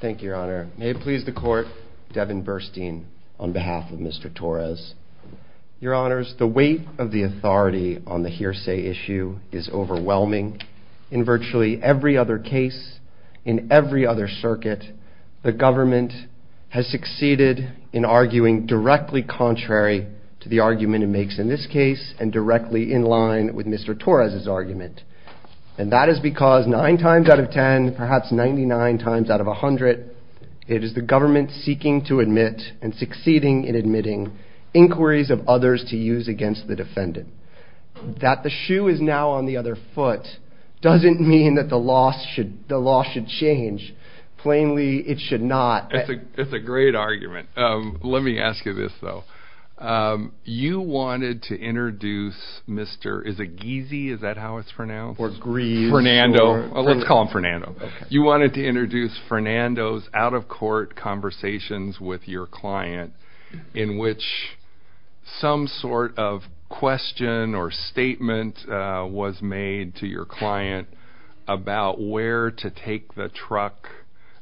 Thank you, Your Honor. May it please the Court, Devin Burstein, on behalf of Mr. Torres. Your Honors, the weight of the authority on the hearsay issue is overwhelming. In virtually every other case, in every other circuit, the government has succeeded in arguing directly contrary to the argument it makes in this case, and directly in line with Mr. Torres's 9 times out of 10, perhaps 99 times out of 100, it is the government seeking to admit, and succeeding in admitting, inquiries of others to use against the defendant. That the shoe is now on the other foot doesn't mean that the law should change. Plainly, it should not. It's a great argument. Let me ask you this, though. You wanted to introduce Mr. Fernando's out-of-court conversations with your client, in which some sort of question or statement was made to your client about where to take the truck,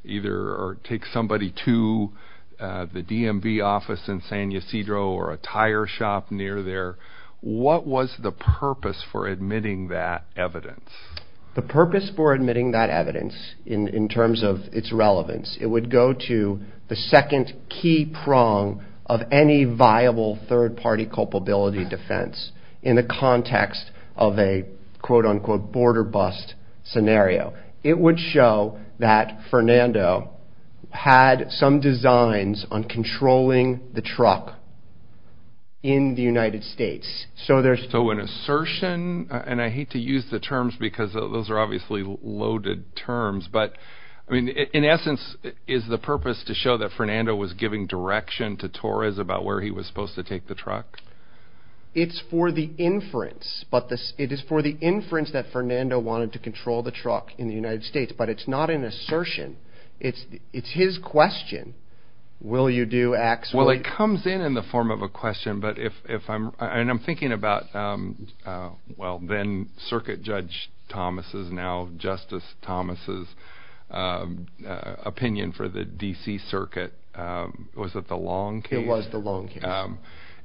either take somebody to the DMV office in San Ysidro, or a tire shop near there. What was the purpose for admitting that evidence? Devin Burstein The purpose for admitting that evidence, in terms of its relevance, it would go to the second key prong of any viable third-party culpability defense, in the context of a, quote-unquote, border bust scenario. It would show that Fernando had some designs on controlling the truck in the United States, so there's... So an assertion, and I hate to use the terms because those are obviously loaded terms, but in essence, is the purpose to show that Fernando was giving direction to Torres about where he was supposed to take the truck? Devin Burstein It's for the inference, but it is for the inference that Fernando wanted to control the truck in the United States, but it's not an assertion. It's his question, will you do, actually? Well, it comes in in the form of a question, but if I'm... I'm thinking about, well, then opinion for the D.C. Circuit, was it the Long case? Devin Burstein It was the Long case. Devin Burstein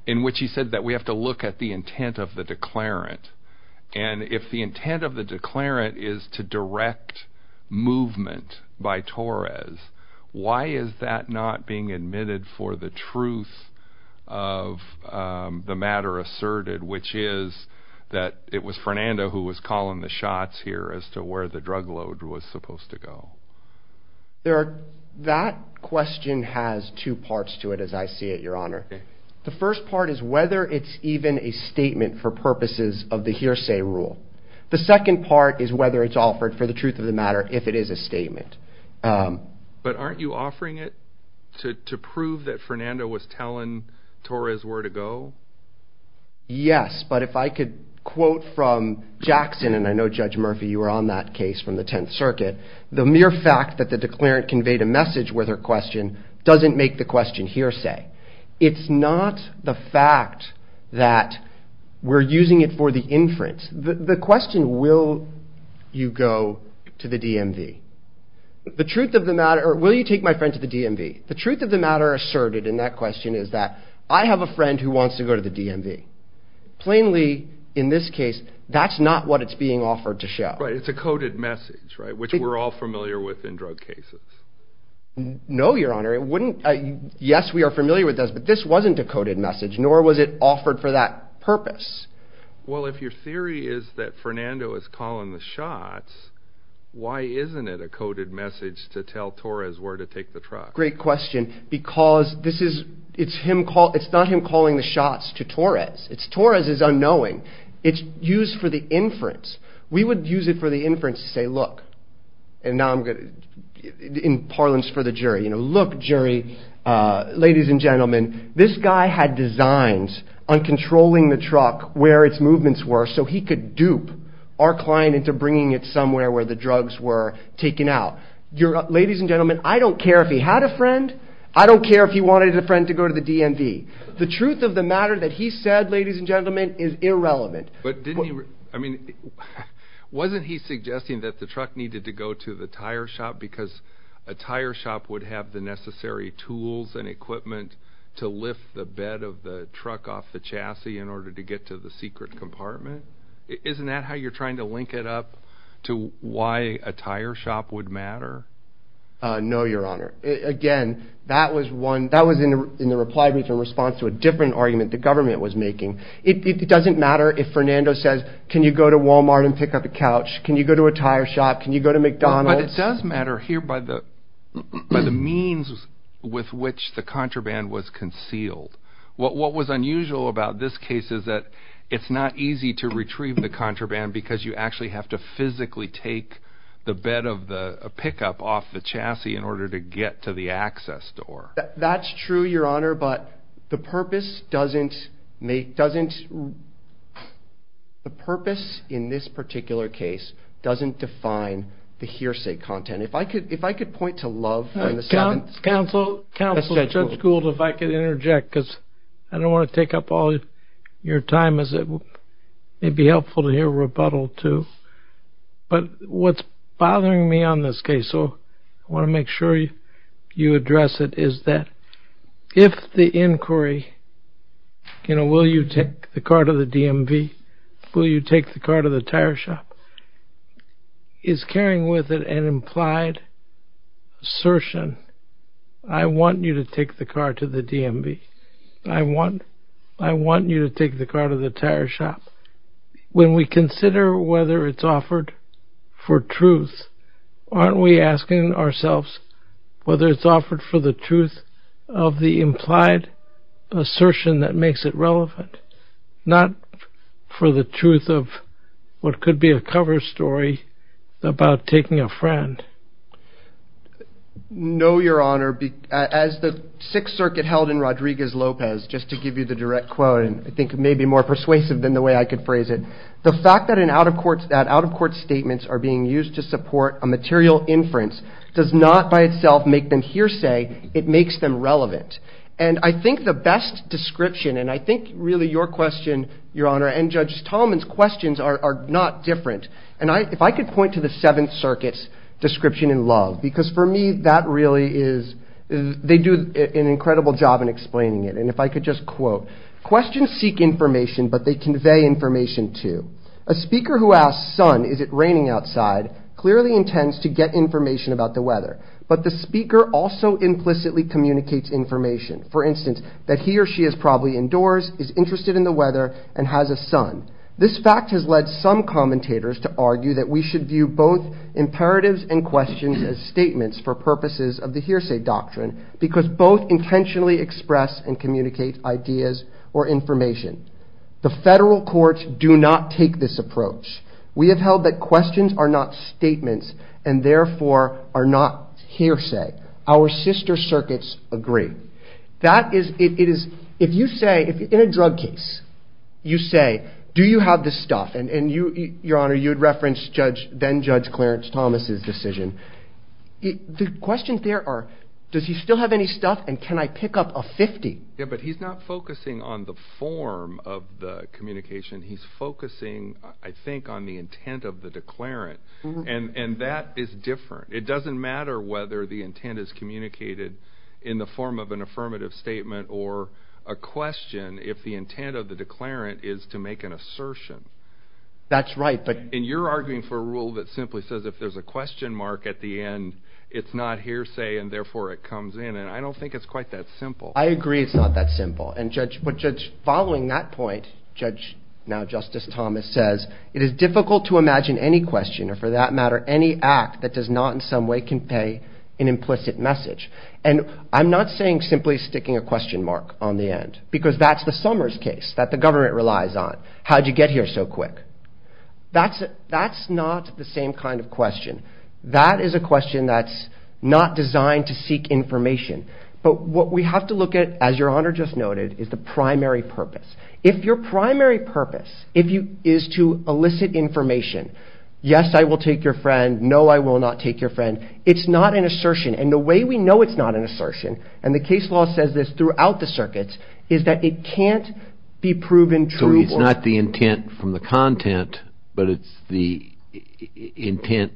In which he said that we have to look at the intent of the declarant, and if the intent of the declarant is to direct movement by Torres, why is that not being admitted for the truth of the matter asserted, which is that it was Fernando who was calling the shots here as to where the drug load was supposed to go? Devin Burstein That question has two parts to it, as I see it, your honor. The first part is whether it's even a statement for purposes of the hearsay rule. The second part is whether it's offered for the truth of the matter, if it is a statement. Devin Burstein But aren't you offering it to prove that Fernando was telling Torres where to go? Devin Burstein Yes, but if I could quote from Jackson, and I know, Judge Murphy, you were on that case from the Tenth Circuit, the mere fact that the declarant conveyed a message with her question doesn't make the question hearsay. It's not the fact that we're using it for the inference. The question, will you go to the DMV? The truth of the matter... Or, will you take my friend to the DMV? The truth of the matter asserted in that question is that I have a friend who wants to go to the DMV. Plainly, in this case, that's not what it's being offered to show. Devin Burstein Right, it's a coded message, right, which we're all familiar with in drug cases. Devin Burstein No, your honor, it wouldn't... Yes, we are familiar with those, but this wasn't a coded message, nor was it offered for that purpose. Devin Burstein Well, if your theory is that Fernando is calling the shots, why isn't it a coded message to tell Torres where to take the truck? Devin Burstein Great question, because it's not him calling the shots to Torres. Torres is unknowing. It's used for the inference. We would use it for the inference to say, look, and now I'm going to... In parlance for the jury, you know, look, jury, ladies and gentlemen, this guy had designs on controlling the truck where its movements were so he could dupe our client into bringing it somewhere where the drugs were taken out. Ladies and gentlemen, I don't care if he wanted a friend to go to the DMV. The truth of the matter that he said, ladies and gentlemen, is irrelevant. Devin Burstein But didn't he... I mean, wasn't he suggesting that the truck needed to go to the tire shop because a tire shop would have the necessary tools and equipment to lift the bed of the truck off the chassis in order to get to the secret compartment? Isn't that how you're trying to link it up to why a tire shop would matter? No, your honor. Again, that was one... That was in the reply to a response to a different argument the government was making. It doesn't matter if Fernando says, can you go to Walmart and pick up a couch? Can you go to a tire shop? Can you go to McDonald's? But it does matter here by the means with which the contraband was concealed. What was unusual about this case is that it's not easy to retrieve the contraband because you actually have to physically take the bed of the pickup off the chassis in order to get to the access door. That's true, your honor, but the purpose doesn't make... Doesn't... The purpose in this particular case doesn't define the hearsay content. If I could... If I could point to Love... Counsel... Counsel Judge Gould, if I could interject because I don't want to take up all your time as it... It'd be helpful to hear rebuttal too. But what's bothering me on this case, so I want to make sure you address it, is that if the inquiry, you know, will you take the car to the DMV? Will you take the car to the tire shop? Is carrying with it an implied assertion? I want you to take the car to the DMV. I want... I want you to take the car to the tire shop. When we consider whether it's offered for truth, aren't we asking ourselves whether it's offered for the truth of the implied assertion that makes it relevant? Not for the truth of what could be a cover story about taking a friend. No, your honor. As the Sixth Circuit held in Rodriguez-Lopez, just to give you the direct quote, and I think it may be more persuasive than the way I could phrase it, the fact that an out-of-court... That out-of-court statements are being used to support a material inference does not by itself make them hearsay. It makes them relevant. And I think the best description, and I think really your question, your honor, and Judge Talman's questions are not different. And if I could point to the Seventh Circuit's description in Love, because for me that really is... They do an incredible job in explaining it. And if I could just quote, questions seek information but they convey information too. A speaker who asks, son, is it raining outside, clearly intends to get information about the weather. But the speaker also implicitly communicates information. For instance, that he or she is probably indoors, is interested in the weather, and has a son. This fact has led some commentators to argue that we should view both imperatives and questions as statements for purposes of the hearsay doctrine because both intentionally express and communicate ideas or information. The federal courts do not take this approach. We have held that questions are not statements and therefore are not hearsay. Our sister circuits agree. That is... If you say, in a drug case, you say, do you have this stuff? And your honor, you had referenced then Judge Clarence Thomas's decision. The questions there are, does he still have any stuff and can I pick up a 50? Yeah, but he's not focusing on the form of the communication. He's focusing, I think, on the intent of the declarant. And that is different. It doesn't matter whether the intent is communicated in the form of an affirmative statement or a question if the intent of the declarant is to make an assertion. That's right, but... And you're arguing for a rule that simply says if there's a question mark at the end, it's not hearsay and therefore it comes in. And I don't think it's quite that simple. I agree it's not that simple. And following that point, Judge, now Justice Thomas says, it is difficult to imagine any question or for that matter, any act that does not in some way can pay an implicit message. And I'm not saying simply sticking a question mark on the end because that's the Summers case that the government relies on. How'd you get here so quick? That's not the same kind of question. That is a question that's not designed to seek information. But what we have to look at, as your honor just noted, is the primary purpose. If your primary purpose is to elicit information, yes, I will take your friend. No, I will not take your friend. It's not an assertion. And the way we know it's not an assertion, and the case law says this throughout the circuits, is that it can't be proven true. So it's not the intent from the content, but it's the intent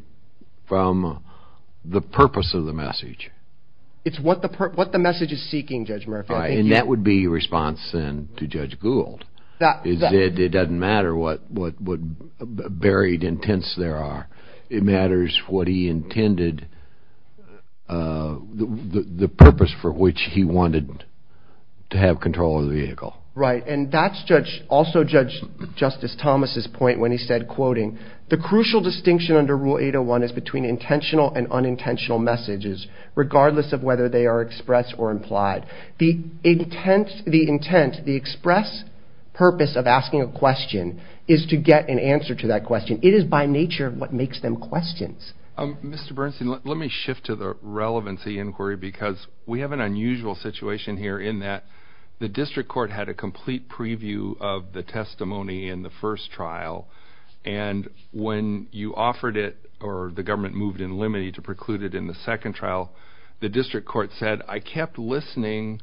from the purpose of the message. It's what the message is seeking, Judge Murphy. And that would be your response then to Judge Gould. It doesn't matter what buried intents there are. It matters what he intended, the purpose for which he wanted to have control of the vehicle. Right. And that's also Judge Justice Thomas's point when he said, quoting, the crucial distinction under Rule 801 is between of whether they are expressed or implied. The intent, the express purpose of asking a question is to get an answer to that question. It is by nature what makes them questions. Mr. Bernstein, let me shift to the relevancy inquiry because we have an unusual situation here in that the district court had a complete preview of the testimony in the first trial. And when you offered it, or the government moved in limine to preclude it in the second trial, the district court said, I kept listening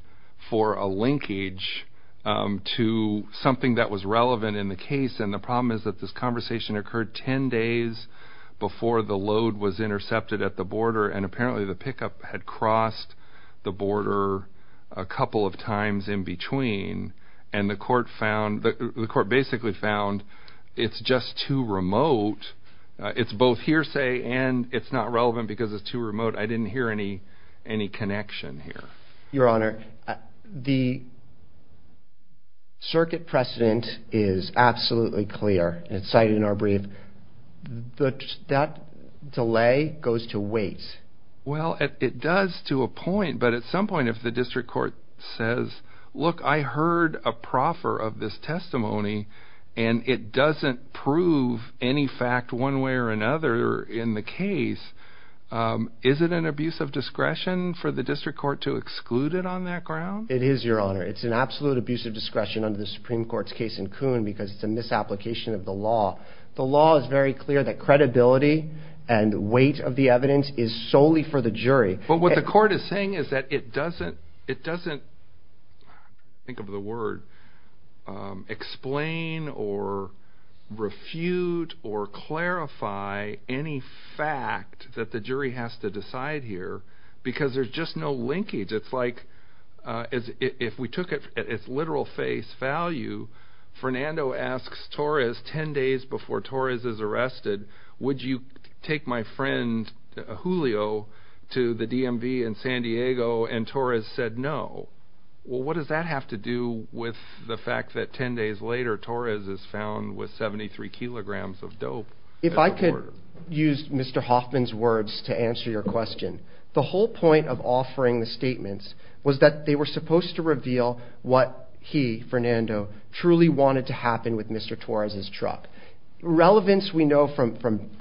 for a linkage to something that was relevant in the case. And the problem is that this conversation occurred 10 days before the load was intercepted at the border. And apparently the pickup had crossed the border a couple of times in between. And the court found, the court basically found it's just too remote. It's both hearsay and it's relevant because it's too remote. I didn't hear any connection here. Your Honor, the circuit precedent is absolutely clear. It's cited in our brief. That delay goes to wait. Well, it does to a point. But at some point, if the district court says, look, I heard a proffer of this testimony and it doesn't prove any fact one way or another in the case, is it an abuse of discretion for the district court to exclude it on that ground? It is, Your Honor. It's an absolute abuse of discretion under the Supreme Court's case in Coon because it's a misapplication of the law. The law is very clear that credibility and weight of the evidence is solely for the jury. But what the court is saying is that it doesn't, think of the word, explain or refute or clarify any fact that the jury has to decide here because there's just no linkage. It's like if we took it at its literal face value, Fernando asks Torres 10 days before Torres is arrested, would you take my friend Julio to the DMV in San Diego and Torres said no. Well, what does that have to do with the fact that 10 days later Torres is found with 73 kilograms of dope? If I could use Mr. Hoffman's words to answer your question, the whole point of offering the statements was that they were supposed to reveal what he, Fernando, truly wanted to happen with Mr. Torres' truck. Relevance, we know from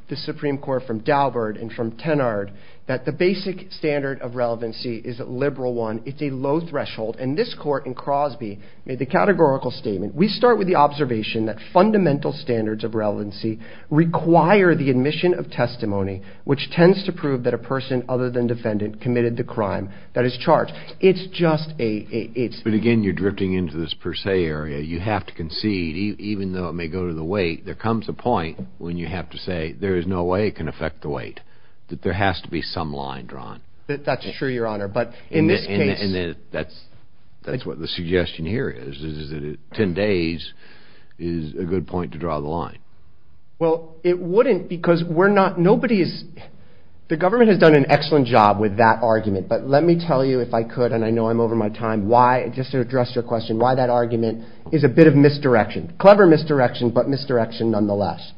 the Supreme Court, from Daubert and from Tenard, that the basic standard of relevancy is a liberal one. It's a low threshold and this court in Crosby made the categorical statement. We start with the observation that fundamental standards of relevancy require the admission of testimony which tends to prove that a person other than defendant committed the crime that is charged. It's just a... But again, you're drifting into this per se area. You have to concede, even though it may go to the weight, there comes a point when you have to say there is no way it can affect the weight, that there has to be some line drawn. That's true, Your Honor, but in this case... And that's what the suggestion here is, is that 10 days is a good point to draw the line. Well, it wouldn't because we're not... Nobody is... The government has done an excellent job with that argument, but let me tell you, if I could, and I know I'm over my time, why, just to address your question, why that argument is a bit of misdirection. Clever misdirection, but misdirection nonetheless.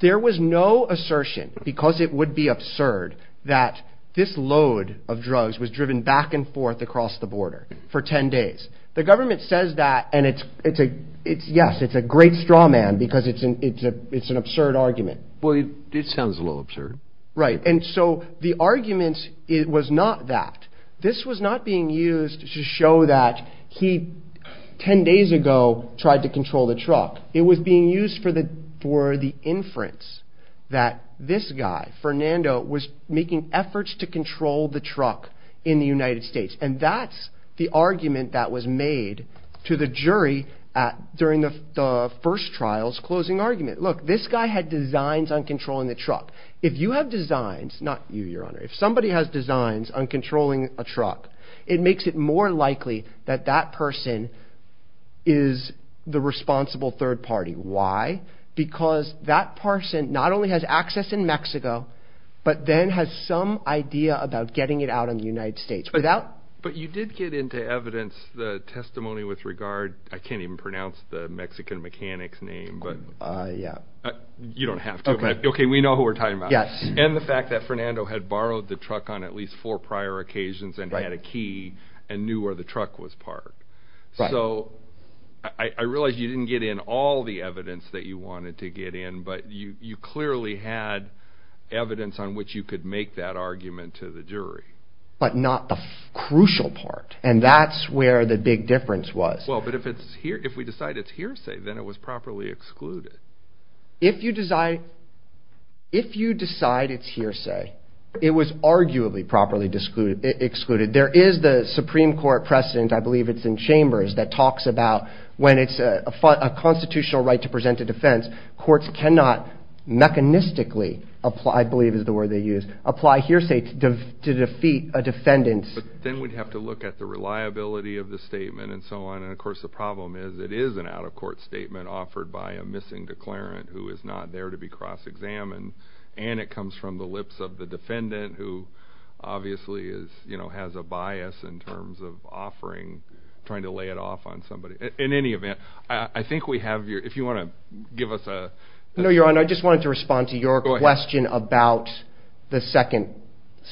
There was no assertion, because it would be absurd, that this load of drugs was driven back and forth across the border for 10 days. The government says that and it's... Yes, it's a great straw man because it's an absurd argument. Well, it sounds a little absurd. Right, and so the argument was not that. This was not being used to show that he, 10 days ago, tried to control the truck. It was being used for the inference that this guy, Fernando, was making efforts to control the truck in the United States, and that's the argument that was made to the jury during the first trial's closing argument. Look, this guy had designs on controlling the truck. If you have designs, not you, Your Honor, if somebody has designs on controlling a truck, it makes it more likely that that person is the responsible third party. Why? Because that person not only has access in Mexico, but then has some idea about getting it out in the United States without... But you did get into evidence, the testimony with regard... I can't even pronounce the Mexican mechanic's name, but... Yeah. You don't have to, but okay, we know who we're talking about. Yes. And the fact that Fernando had borrowed the truck on at least four prior occasions and had a key and knew where the truck was parked. So, I realize you didn't get in all the evidence that you wanted to get in, but you clearly had evidence on which you could make that argument to the jury. But not the crucial part, and that's where the big difference was. Well, but if we decide it's hearsay, then it was properly excluded. If you decide it's hearsay, it was arguably properly excluded. There is the Supreme Court precedent, I believe it's in chambers, that talks about when it's a constitutional right to present a defense, courts cannot mechanistically apply, is the word they use, apply hearsay to defeat a defendant. But then we'd have to look at the reliability of the statement and so on. And of course, the problem is it is an out-of-court statement offered by a missing declarant who is not there to be cross-examined. And it comes from the lips of the defendant who obviously has a bias in terms of offering, trying to lay it off on somebody. In any event, I think we have your... If you want to give us a... No, Your Honor, I just wanted to respond to your question about the second,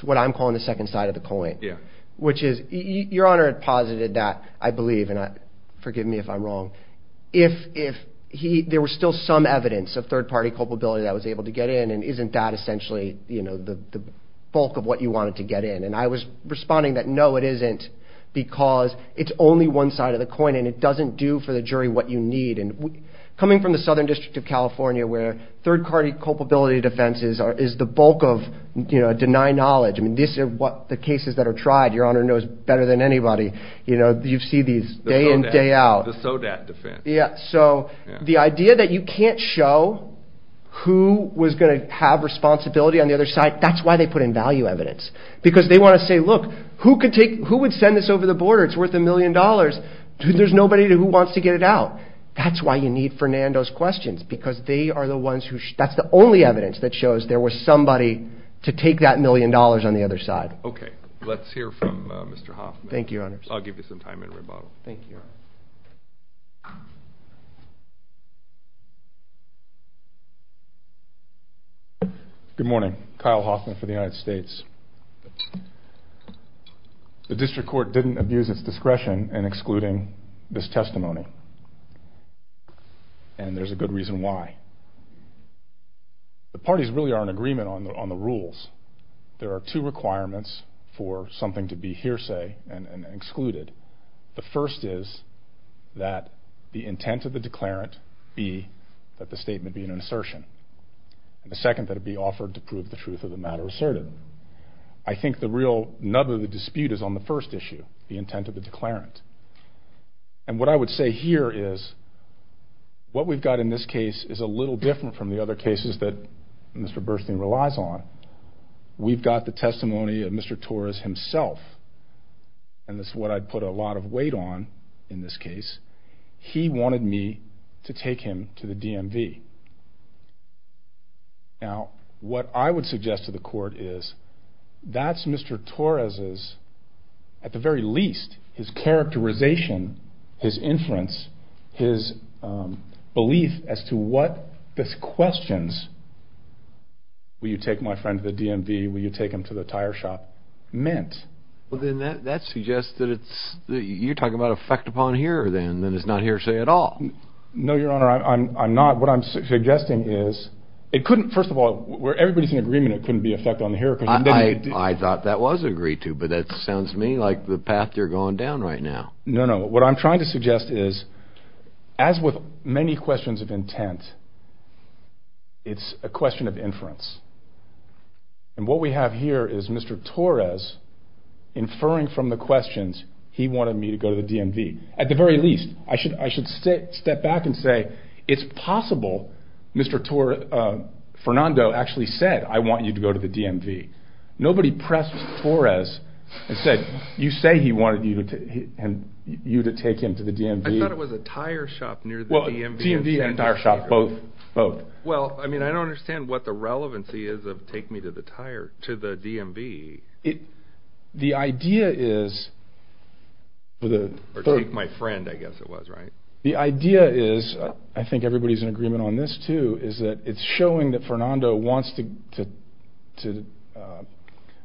what I'm calling the second side of the coin. Yeah. Which is, Your Honor had posited that, I believe, and forgive me if I'm wrong, if there was still some evidence of third-party culpability that was able to get in, and isn't that essentially the bulk of what you wanted to get in? And I was responding that no, it isn't, because it's only one side of the coin and it doesn't do for the jury what you need. And coming from the Southern District of California, where third-party culpability defense is the bulk of deny knowledge. I mean, this is what the cases that are tried, Your Honor knows better than anybody. You've seen these day in, day out. The SODAT defense. Yeah. So the idea that you can't show who was going to have responsibility on the other side, that's why they put in value evidence, because they want to say, look, who would send this over the border? It's worth a million dollars. There's nobody who wants to get it out. That's why you need Fernando's questions, because they are the ones who, that's the only evidence that shows there was somebody to take that million dollars on the other side. Okay. Let's hear from Mr. Hoffman. Thank you, Your Honor. I'll give you some time in rebuttal. Thank you. Good morning. Kyle Hoffman for the United States. The district court didn't abuse its discretion in excluding this testimony, and there's a good reason why. The parties really are in agreement on the rules. There are two requirements for something to be hearsay and excluded. The first is that the intent of the declarant be that the statement be an assertion. And the second, that it be offered to prove the matter asserted. I think the real nub of the dispute is on the first issue, the intent of the declarant. And what I would say here is, what we've got in this case is a little different from the other cases that Mr. Burstein relies on. We've got the testimony of Mr. Torres himself, and that's what I'd put a lot of weight on in this case. He wanted me to take him to the DMV. Now, what I would suggest to the court is, that's Mr. Torres's, at the very least, his characterization, his inference, his belief as to what the questions, will you take my friend to the DMV, will you take him to the tire shop, meant. Well, then that suggests that it's, you're talking about effect upon hearer then, and it's not hearsay at all. No, Your Honor, I'm not. What I'm suggesting is, it couldn't, first of all, where everybody's in agreement, it couldn't be effect on the hearer. I thought that was agreed to, but that sounds to me like the path you're going down right now. No, no. What I'm trying to suggest is, as with many questions of intent, it's a question of inference. And what we have here is Mr. Torres inferring from the questions, he wanted me to go to the DMV. At the very least, I should step back and say, it's possible Mr. Fernando actually said, I want you to go to the DMV. Nobody pressed Torres and said, you say he wanted you to take him to the DMV. I thought it was a tire shop near the DMV. Well, DMV and tire shop, both, both. Well, I mean, I don't understand what the relevancy is of take me to the DMV. It, the idea is... Or take my friend, I guess it was, right? The idea is, I think everybody's in agreement on this too, is that it's showing that Fernando wants to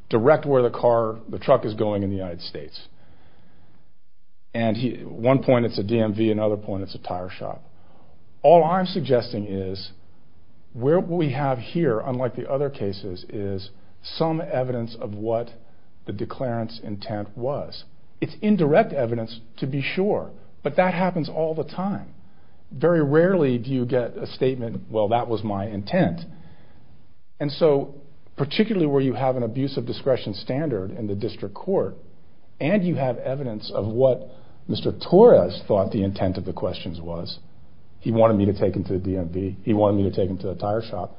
direct where the car, the truck is going in the United States. And one point it's a DMV, another point it's a tire shop. All I'm suggesting is, where we have here, unlike the other cases, is some evidence of what the declarant's intent was. It's indirect evidence to be sure, but that happens all the time. Very rarely do you get a statement, well, that was my intent. And so, particularly where you have an abuse of discretion standard in the district court, and you have evidence of what Mr. Torres thought the intent of the questions was, he wanted me to take him to the DMV, he wanted me to take him to the tire shop.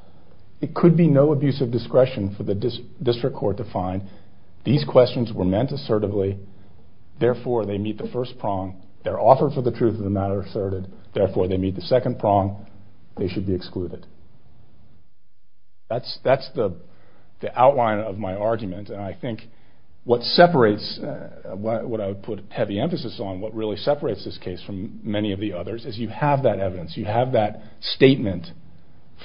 It could be no abuse of discretion for the district court to find, these questions were meant assertively, therefore they meet the first prong, they're offered for the truth of the matter asserted, therefore they meet the second prong, they should be excluded. That's the outline of my argument, and I think what separates, what I would put heavy emphasis on, what really separates this case from many of the others, is you have that evidence, you have that statement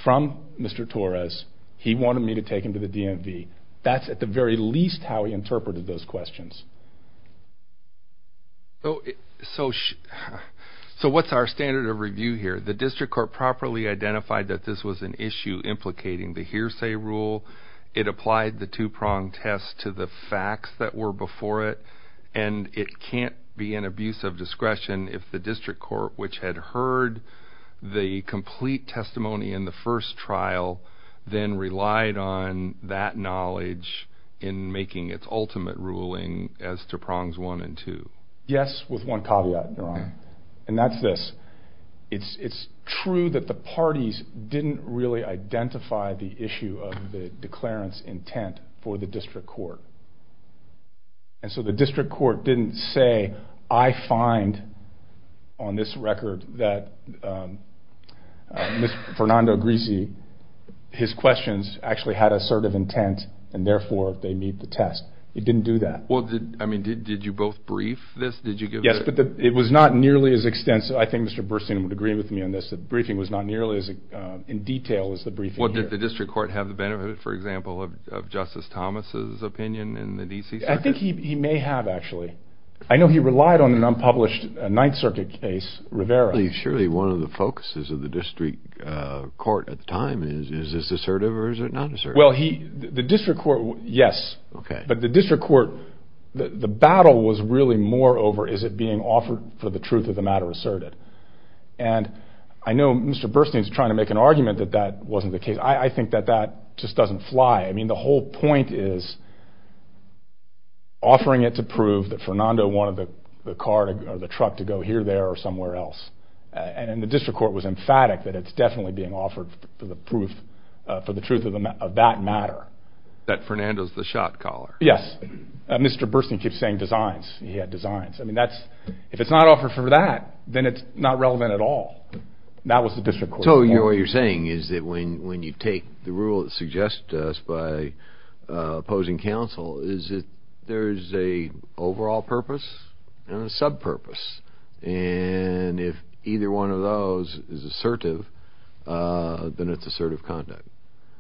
from Mr. Torres, he wanted me to take him to the DMV. That's at the very least how he interpreted those questions. So, what's our standard of review here? The district court properly identified that this was an issue implicating the hearsay rule, it applied the two prong test to the facts that were before it, and it can't be an abuse of discretion if the district court, which had heard the complete testimony in the first trial, then relied on that knowledge in making its ultimate ruling as to prongs one and two. Yes, with one caveat, Your Honor, and that's this, it's true that the parties didn't really identify the issue of the declarant's intent for the district court, and so the district court didn't say, I find on this record that Mr. Fernando Greasy, his questions actually had assertive intent, and therefore they meet the test. It didn't do that. Well, I mean, did you both brief this? Yes, but it was not nearly as extensive. I think Mr. Burstein would agree with me on this, the briefing was not nearly as in detail as the briefing here. Did the district court have the benefit, for example, of Justice Thomas's opinion in the D.C. Circuit? I think he may have, actually. I know he relied on an unpublished Ninth Circuit case, Rivera. Surely one of the focuses of the district court at the time is, is this assertive or is it not assertive? Well, the district court, yes, but the district court, the battle was really more over, is it being offered for the truth of the matter asserted? And I know Mr. Burstein's trying to make an argument that that wasn't the case. I think that that just doesn't fly. I mean, the whole point is offering it to prove that Fernando wanted the car or the truck to go here, there, or somewhere else. And the district court was emphatic that it's definitely being offered for the truth of that matter. That Fernando's the shot caller. Yes, Mr. Burstein keeps saying designs, he had designs. I mean, if it's not offered for that, then it's not relevant at all. That was the district court's point. So what you're saying is that when you take the rule that suggests to us by opposing counsel, is it, there's a overall purpose and a sub purpose. And if either one of those is assertive, then it's assertive conduct.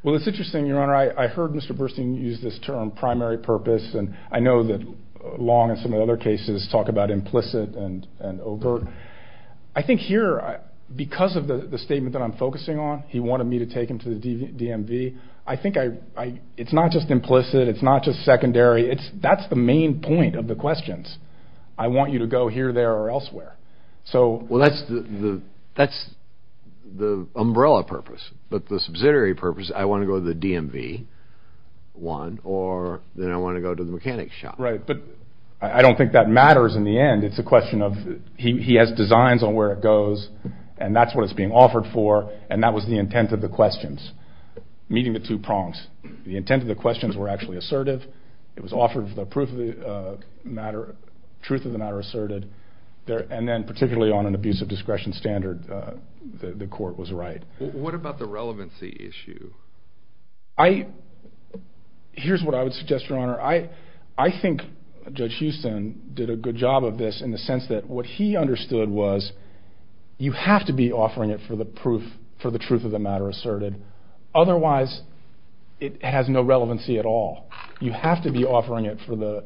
Well, it's interesting, Your Honor, I heard Mr. Burstein use this term primary purpose, and I know that Long and some of the other cases talk about implicit and overt. I think here, because of the statement that I'm focusing on, he wanted me to take him to the DMV. I think it's not just implicit. It's not just secondary. It's that's the main point of the questions. I want you to go here, there, or elsewhere. Well, that's the umbrella purpose, but the subsidiary purpose, I want to go to the DMV one, or then I want to go to the mechanic shop. Right. But I don't think that matters in the end. It's a question of he has designs on where it goes, and that's what it's being offered for, and that was the intent of the questions. Meeting the two prongs, the intent of the questions were actually assertive. It was offered for the truth of the matter asserted, and then particularly on an abuse of discretion standard, the court was right. What about the relevancy issue? Here's what I would suggest, Your Honor. I think Judge Houston did a good job of this in the sense that what he understood was you have to be offering it for the truth of the matter asserted. Otherwise, it has no relevancy at all. You have to be offering it for the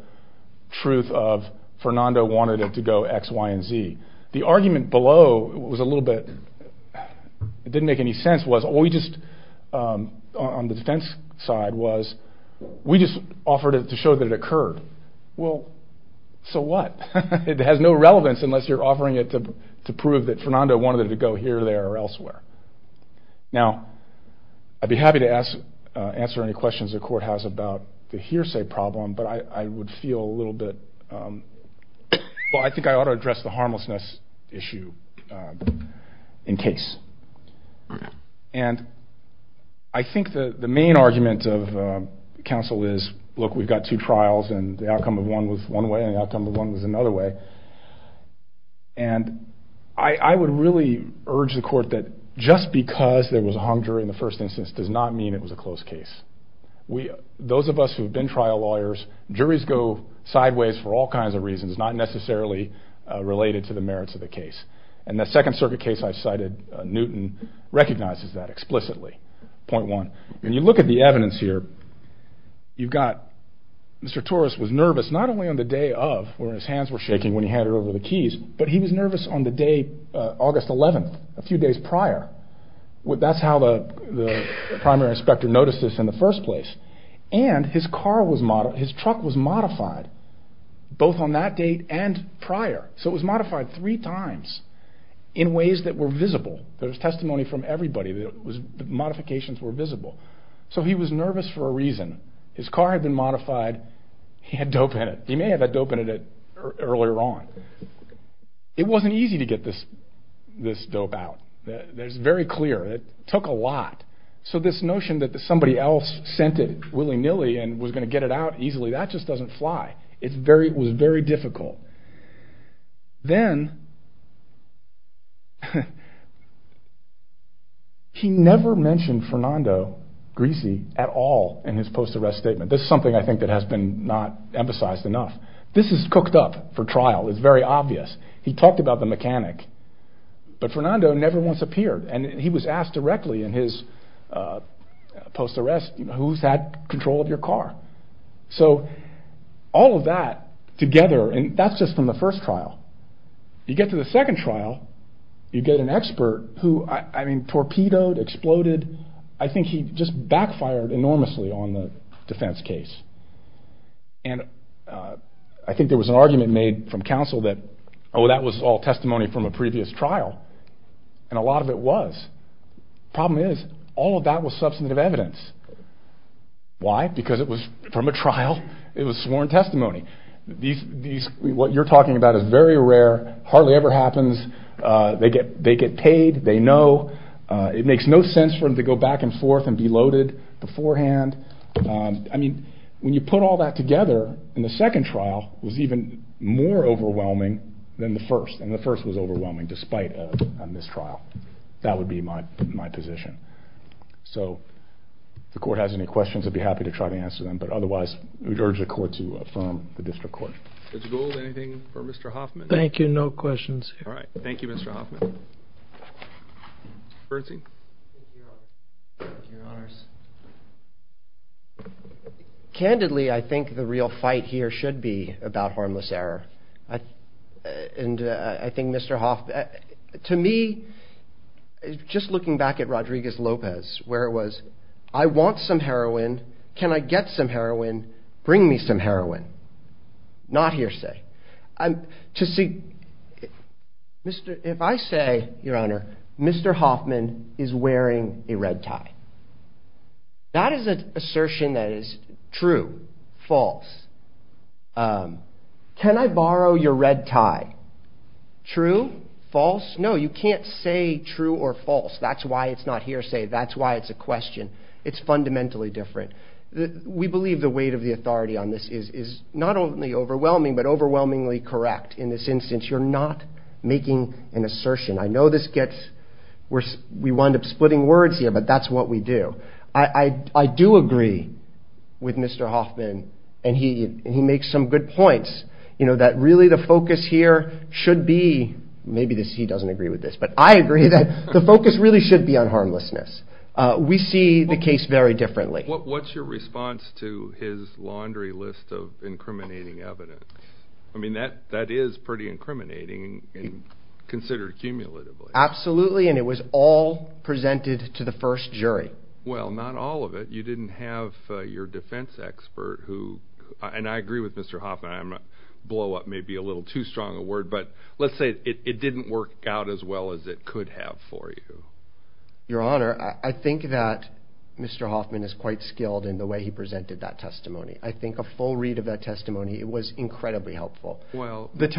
truth of Fernando wanted it to go X, Y, and Z. The argument below was a little bit, it didn't make any sense, was we just, on the defense side was we just offered it to show that it occurred. Well, so what? It has no relevance unless you're offering it to prove that Fernando wanted it to go here, there, or elsewhere. Now, I'd be happy to answer any questions the court has about the hearsay problem, but I would feel a little bit, well, I think I ought to address the harmlessness issue in case. And I think the main argument of counsel is, look, we've got two trials, and the outcome of one was one way, and the outcome of one was another way. And I would really urge the court that just because there was a hung jury in the first instance does not mean it was a closed case. Those of us who have been trial lawyers, juries go sideways for all kinds of reasons, not necessarily related to the merits of the case. And the Second Circuit case I cited, Newton recognizes that explicitly, point one. When you look at the evidence here, you've got, Mr. Torres was nervous not only on the day of, where his hands were shaking when he handed over the keys, but he was nervous on the day, August 11th, a few days prior. That's how the primary inspector noticed this in the first place. And his car was, his truck was modified, both on that date and prior. So it was modified three times in ways that were visible. There was testimony from everybody that modifications were visible. So he was nervous for a reason. His car had been modified. He had dope in it. He may have had dope in it earlier on. It wasn't easy to get this dope out. That's very clear. It took a lot. So this notion that somebody else sent it willy-nilly and was going to get it out easily, that just doesn't fly. It was very difficult. Then he never mentioned Fernando Griese at all in his post-arrest statement. This is something I think that has been not emphasized enough. This is cooked up for trial. It's very obvious. He talked about the mechanic, but Fernando never once appeared. And he was asked directly in his post-arrest, who's had control of your car? So all of that together, and that's just from the first trial. You get to the second trial, you get an expert who, I mean, torpedoed, exploded. I think he just backfired enormously on the defense case. And I think there was an argument made from counsel that, oh, that was all testimony from a previous trial. And a lot of it was. The problem is, all of that was substantive evidence. Why? Because it was from a trial. It was sworn testimony. What you're talking about is very rare, hardly ever happens. They get paid. They know. It makes no sense for them to go back and forth and be loaded beforehand. I mean, when you put all that together in the second trial, it was even more overwhelming than the first. And the first was overwhelming, despite a mistrial. That would be my position. So if the court has any questions, I'd be happy to try to answer them. But otherwise, we'd urge the court to affirm the district court. Mr. Gould, anything for Mr. Hoffman? Thank you. No questions. All right. Thank you, Mr. Hoffman. Bernstein? Candidly, I think the real fight here should be about harmless error. And I think Mr. Hoffman, to me, just looking back at Rodriguez-Lopez, where it was, I want some heroin. Can I get some heroin? Bring me some heroin. Not hearsay. If I say, your honor, Mr. Hoffman is wearing a red tie, that is an assertion that is true, false. Can I borrow your red tie? True, false? No, you can't say true or false. That's why it's not hearsay. That's why it's a question. It's fundamentally different. We believe the weight of the authority on this is not only overwhelming, but overwhelmingly correct. In this instance, you're not making an assertion. I know we wind up splitting words here, but that's what we do. I do agree with Mr. Hoffman, and he makes some good points, that really the focus here should be, maybe he doesn't agree with this, but I agree that the focus really should be on harmlessness. We see the case very differently. What's your response to his laundry list of incriminating evidence? I mean, that is pretty incriminating and considered cumulatively. Absolutely. And it was all presented to the first jury. Well, not all of it. You didn't have your defense expert who, and I agree with Mr. Hoffman, I blow up maybe a little too strong a word, but let's say it didn't work out as well as it could have for you. Your Honor, I think that Mr. Hoffman is quite skilled in the way he presented that testimony. I think a full read of that testimony, it was incredibly helpful. Well, it's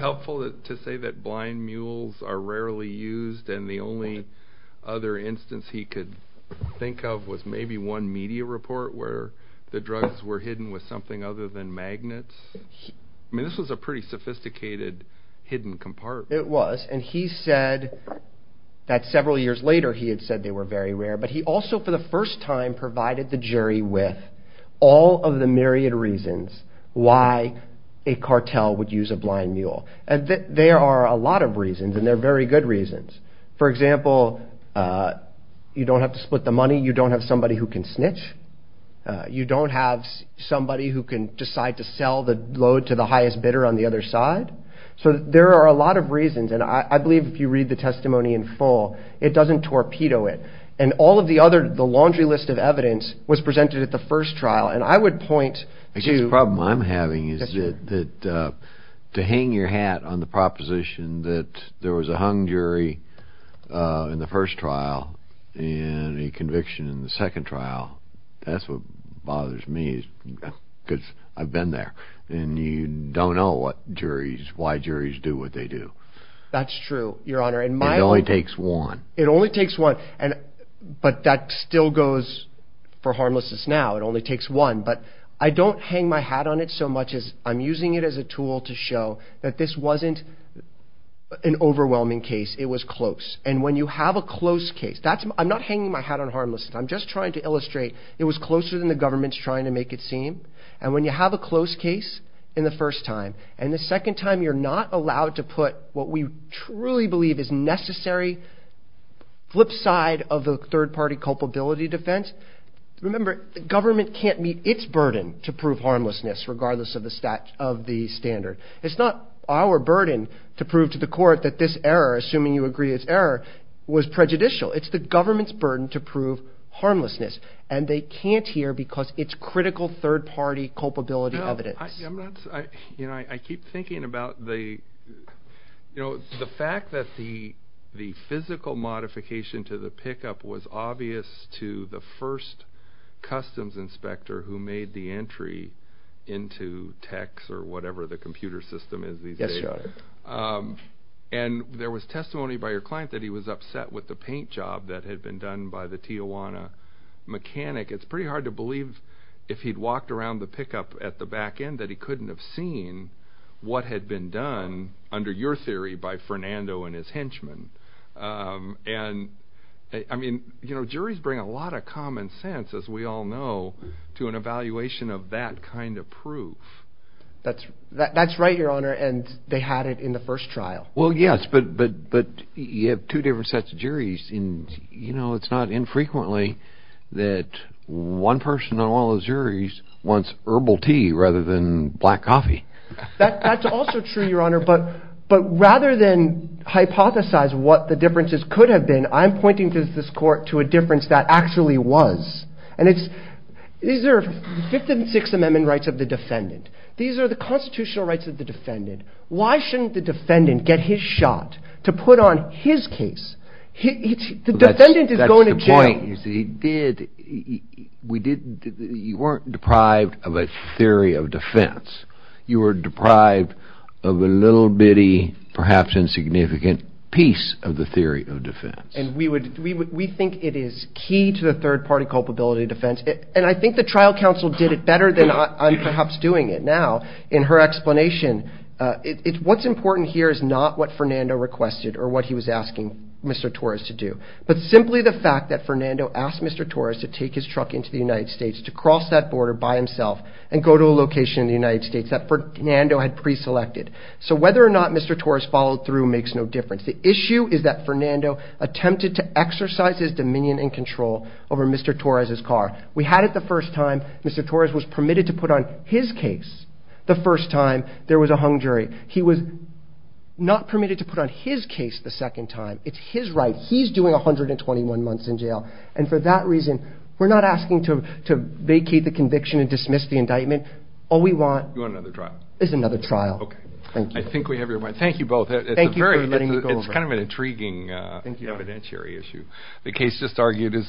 helpful to say that blind mules are rarely used, and the only other instance he could think of was maybe one media report where the drugs were hidden with something other than magnets. I mean, this was a pretty sophisticated hidden compartment. It was, and he said that several years later he had said they were very rare, but he also for the first time provided the jury with all of the myriad reasons why a cartel would use a blind mule. And there are a lot of reasons, and they're very good reasons. For example, you don't have to split the money. You don't have somebody who can snitch. You don't have somebody who can decide to sell the load to the highest bidder on the other side. So there are a lot of reasons, and I believe if you read the testimony in full, it doesn't torpedo it. And all of the other, the laundry list of evidence was presented at the first trial, and I would point to- I guess the problem I'm having is that to hang your hat on the proposition that there was a hung jury in the first trial and a conviction in the second trial, that's what bothers me, because I've been there. And you don't know what juries, why juries do what they do. That's true, Your Honor, and my- It only takes one. It only takes one, and, but that still goes for harmlessness now. It only takes one, but I don't hang my hat on it so much as I'm using it as a tool to show that this wasn't an overwhelming case. It was close. And when you have a close case, that's, I'm not hanging my hat on harmlessness. I'm just trying to illustrate it was closer than the government's trying to make it seem. And when you have a close case in the first time, and the second time you're not allowed to put what we truly believe is necessary, flip side of the third-party culpability defense, remember, the government can't meet its burden to prove harmlessness regardless of the standard. It's not our burden to prove to the court that this error, assuming you agree it's error, was prejudicial. It's the government's burden to prove harmlessness. And they can't hear because it's critical third-party culpability evidence. No, I'm not, you know, I keep thinking about the, you know, the fact that the physical modification to the pickup was obvious to the first customs inspector who made the entry into techs or whatever the computer system is these days. Yes, Your Honor. And there was testimony by your client that he was upset with the paint job that had been done by the Tijuana mechanic. It's pretty hard to believe if he'd walked around the pickup at the back end that he couldn't have seen what had been done under your theory by Fernando and his henchmen. And I mean, you know, juries bring a lot of common sense, as we all know, to an evaluation of that kind of proof. That's right, Your Honor. And they had it in the first trial. Well, yes, but you have two different sets of juries. And, you know, it's not infrequently that one person on one of those juries wants herbal tea rather than black coffee. That's also true, Your Honor. But rather than hypothesize what the differences could have been, I'm pointing to this court to a difference that actually was. And these are the Fifth and Sixth Amendment rights of the defendant. These are the constitutional rights of the defendant. Why shouldn't the defendant get his shot to put on his case? The defendant is going to jail. You see, you weren't deprived of a theory of defense. You were deprived of a little bitty, perhaps insignificant, piece of the theory of defense. And we think it is key to the third-party culpability defense. And I think the trial counsel did it better than I'm perhaps doing it now in her explanation. What's important here is not what Fernando requested or what he was asking Mr. Torres to do, but simply the fact that Fernando asked Mr. Torres to take his truck into the United States to cross that border by himself and go to a location in the United States that Fernando had preselected. So whether or not Mr. Torres followed through makes no difference. The issue is that Fernando attempted to exercise his dominion and control over Mr. Torres's car. We had it the first time. Mr. Torres was permitted to put on his case the first time there was a hung jury. He was not permitted to put on his case the second time. It's his right. He's doing 121 months in jail. And for that reason, we're not asking to vacate the conviction and dismiss the indictment. All we want is another trial. I think we have your point. Thank you both. Thank you for letting me go over. It's kind of an intriguing evidentiary issue. The case just argued is.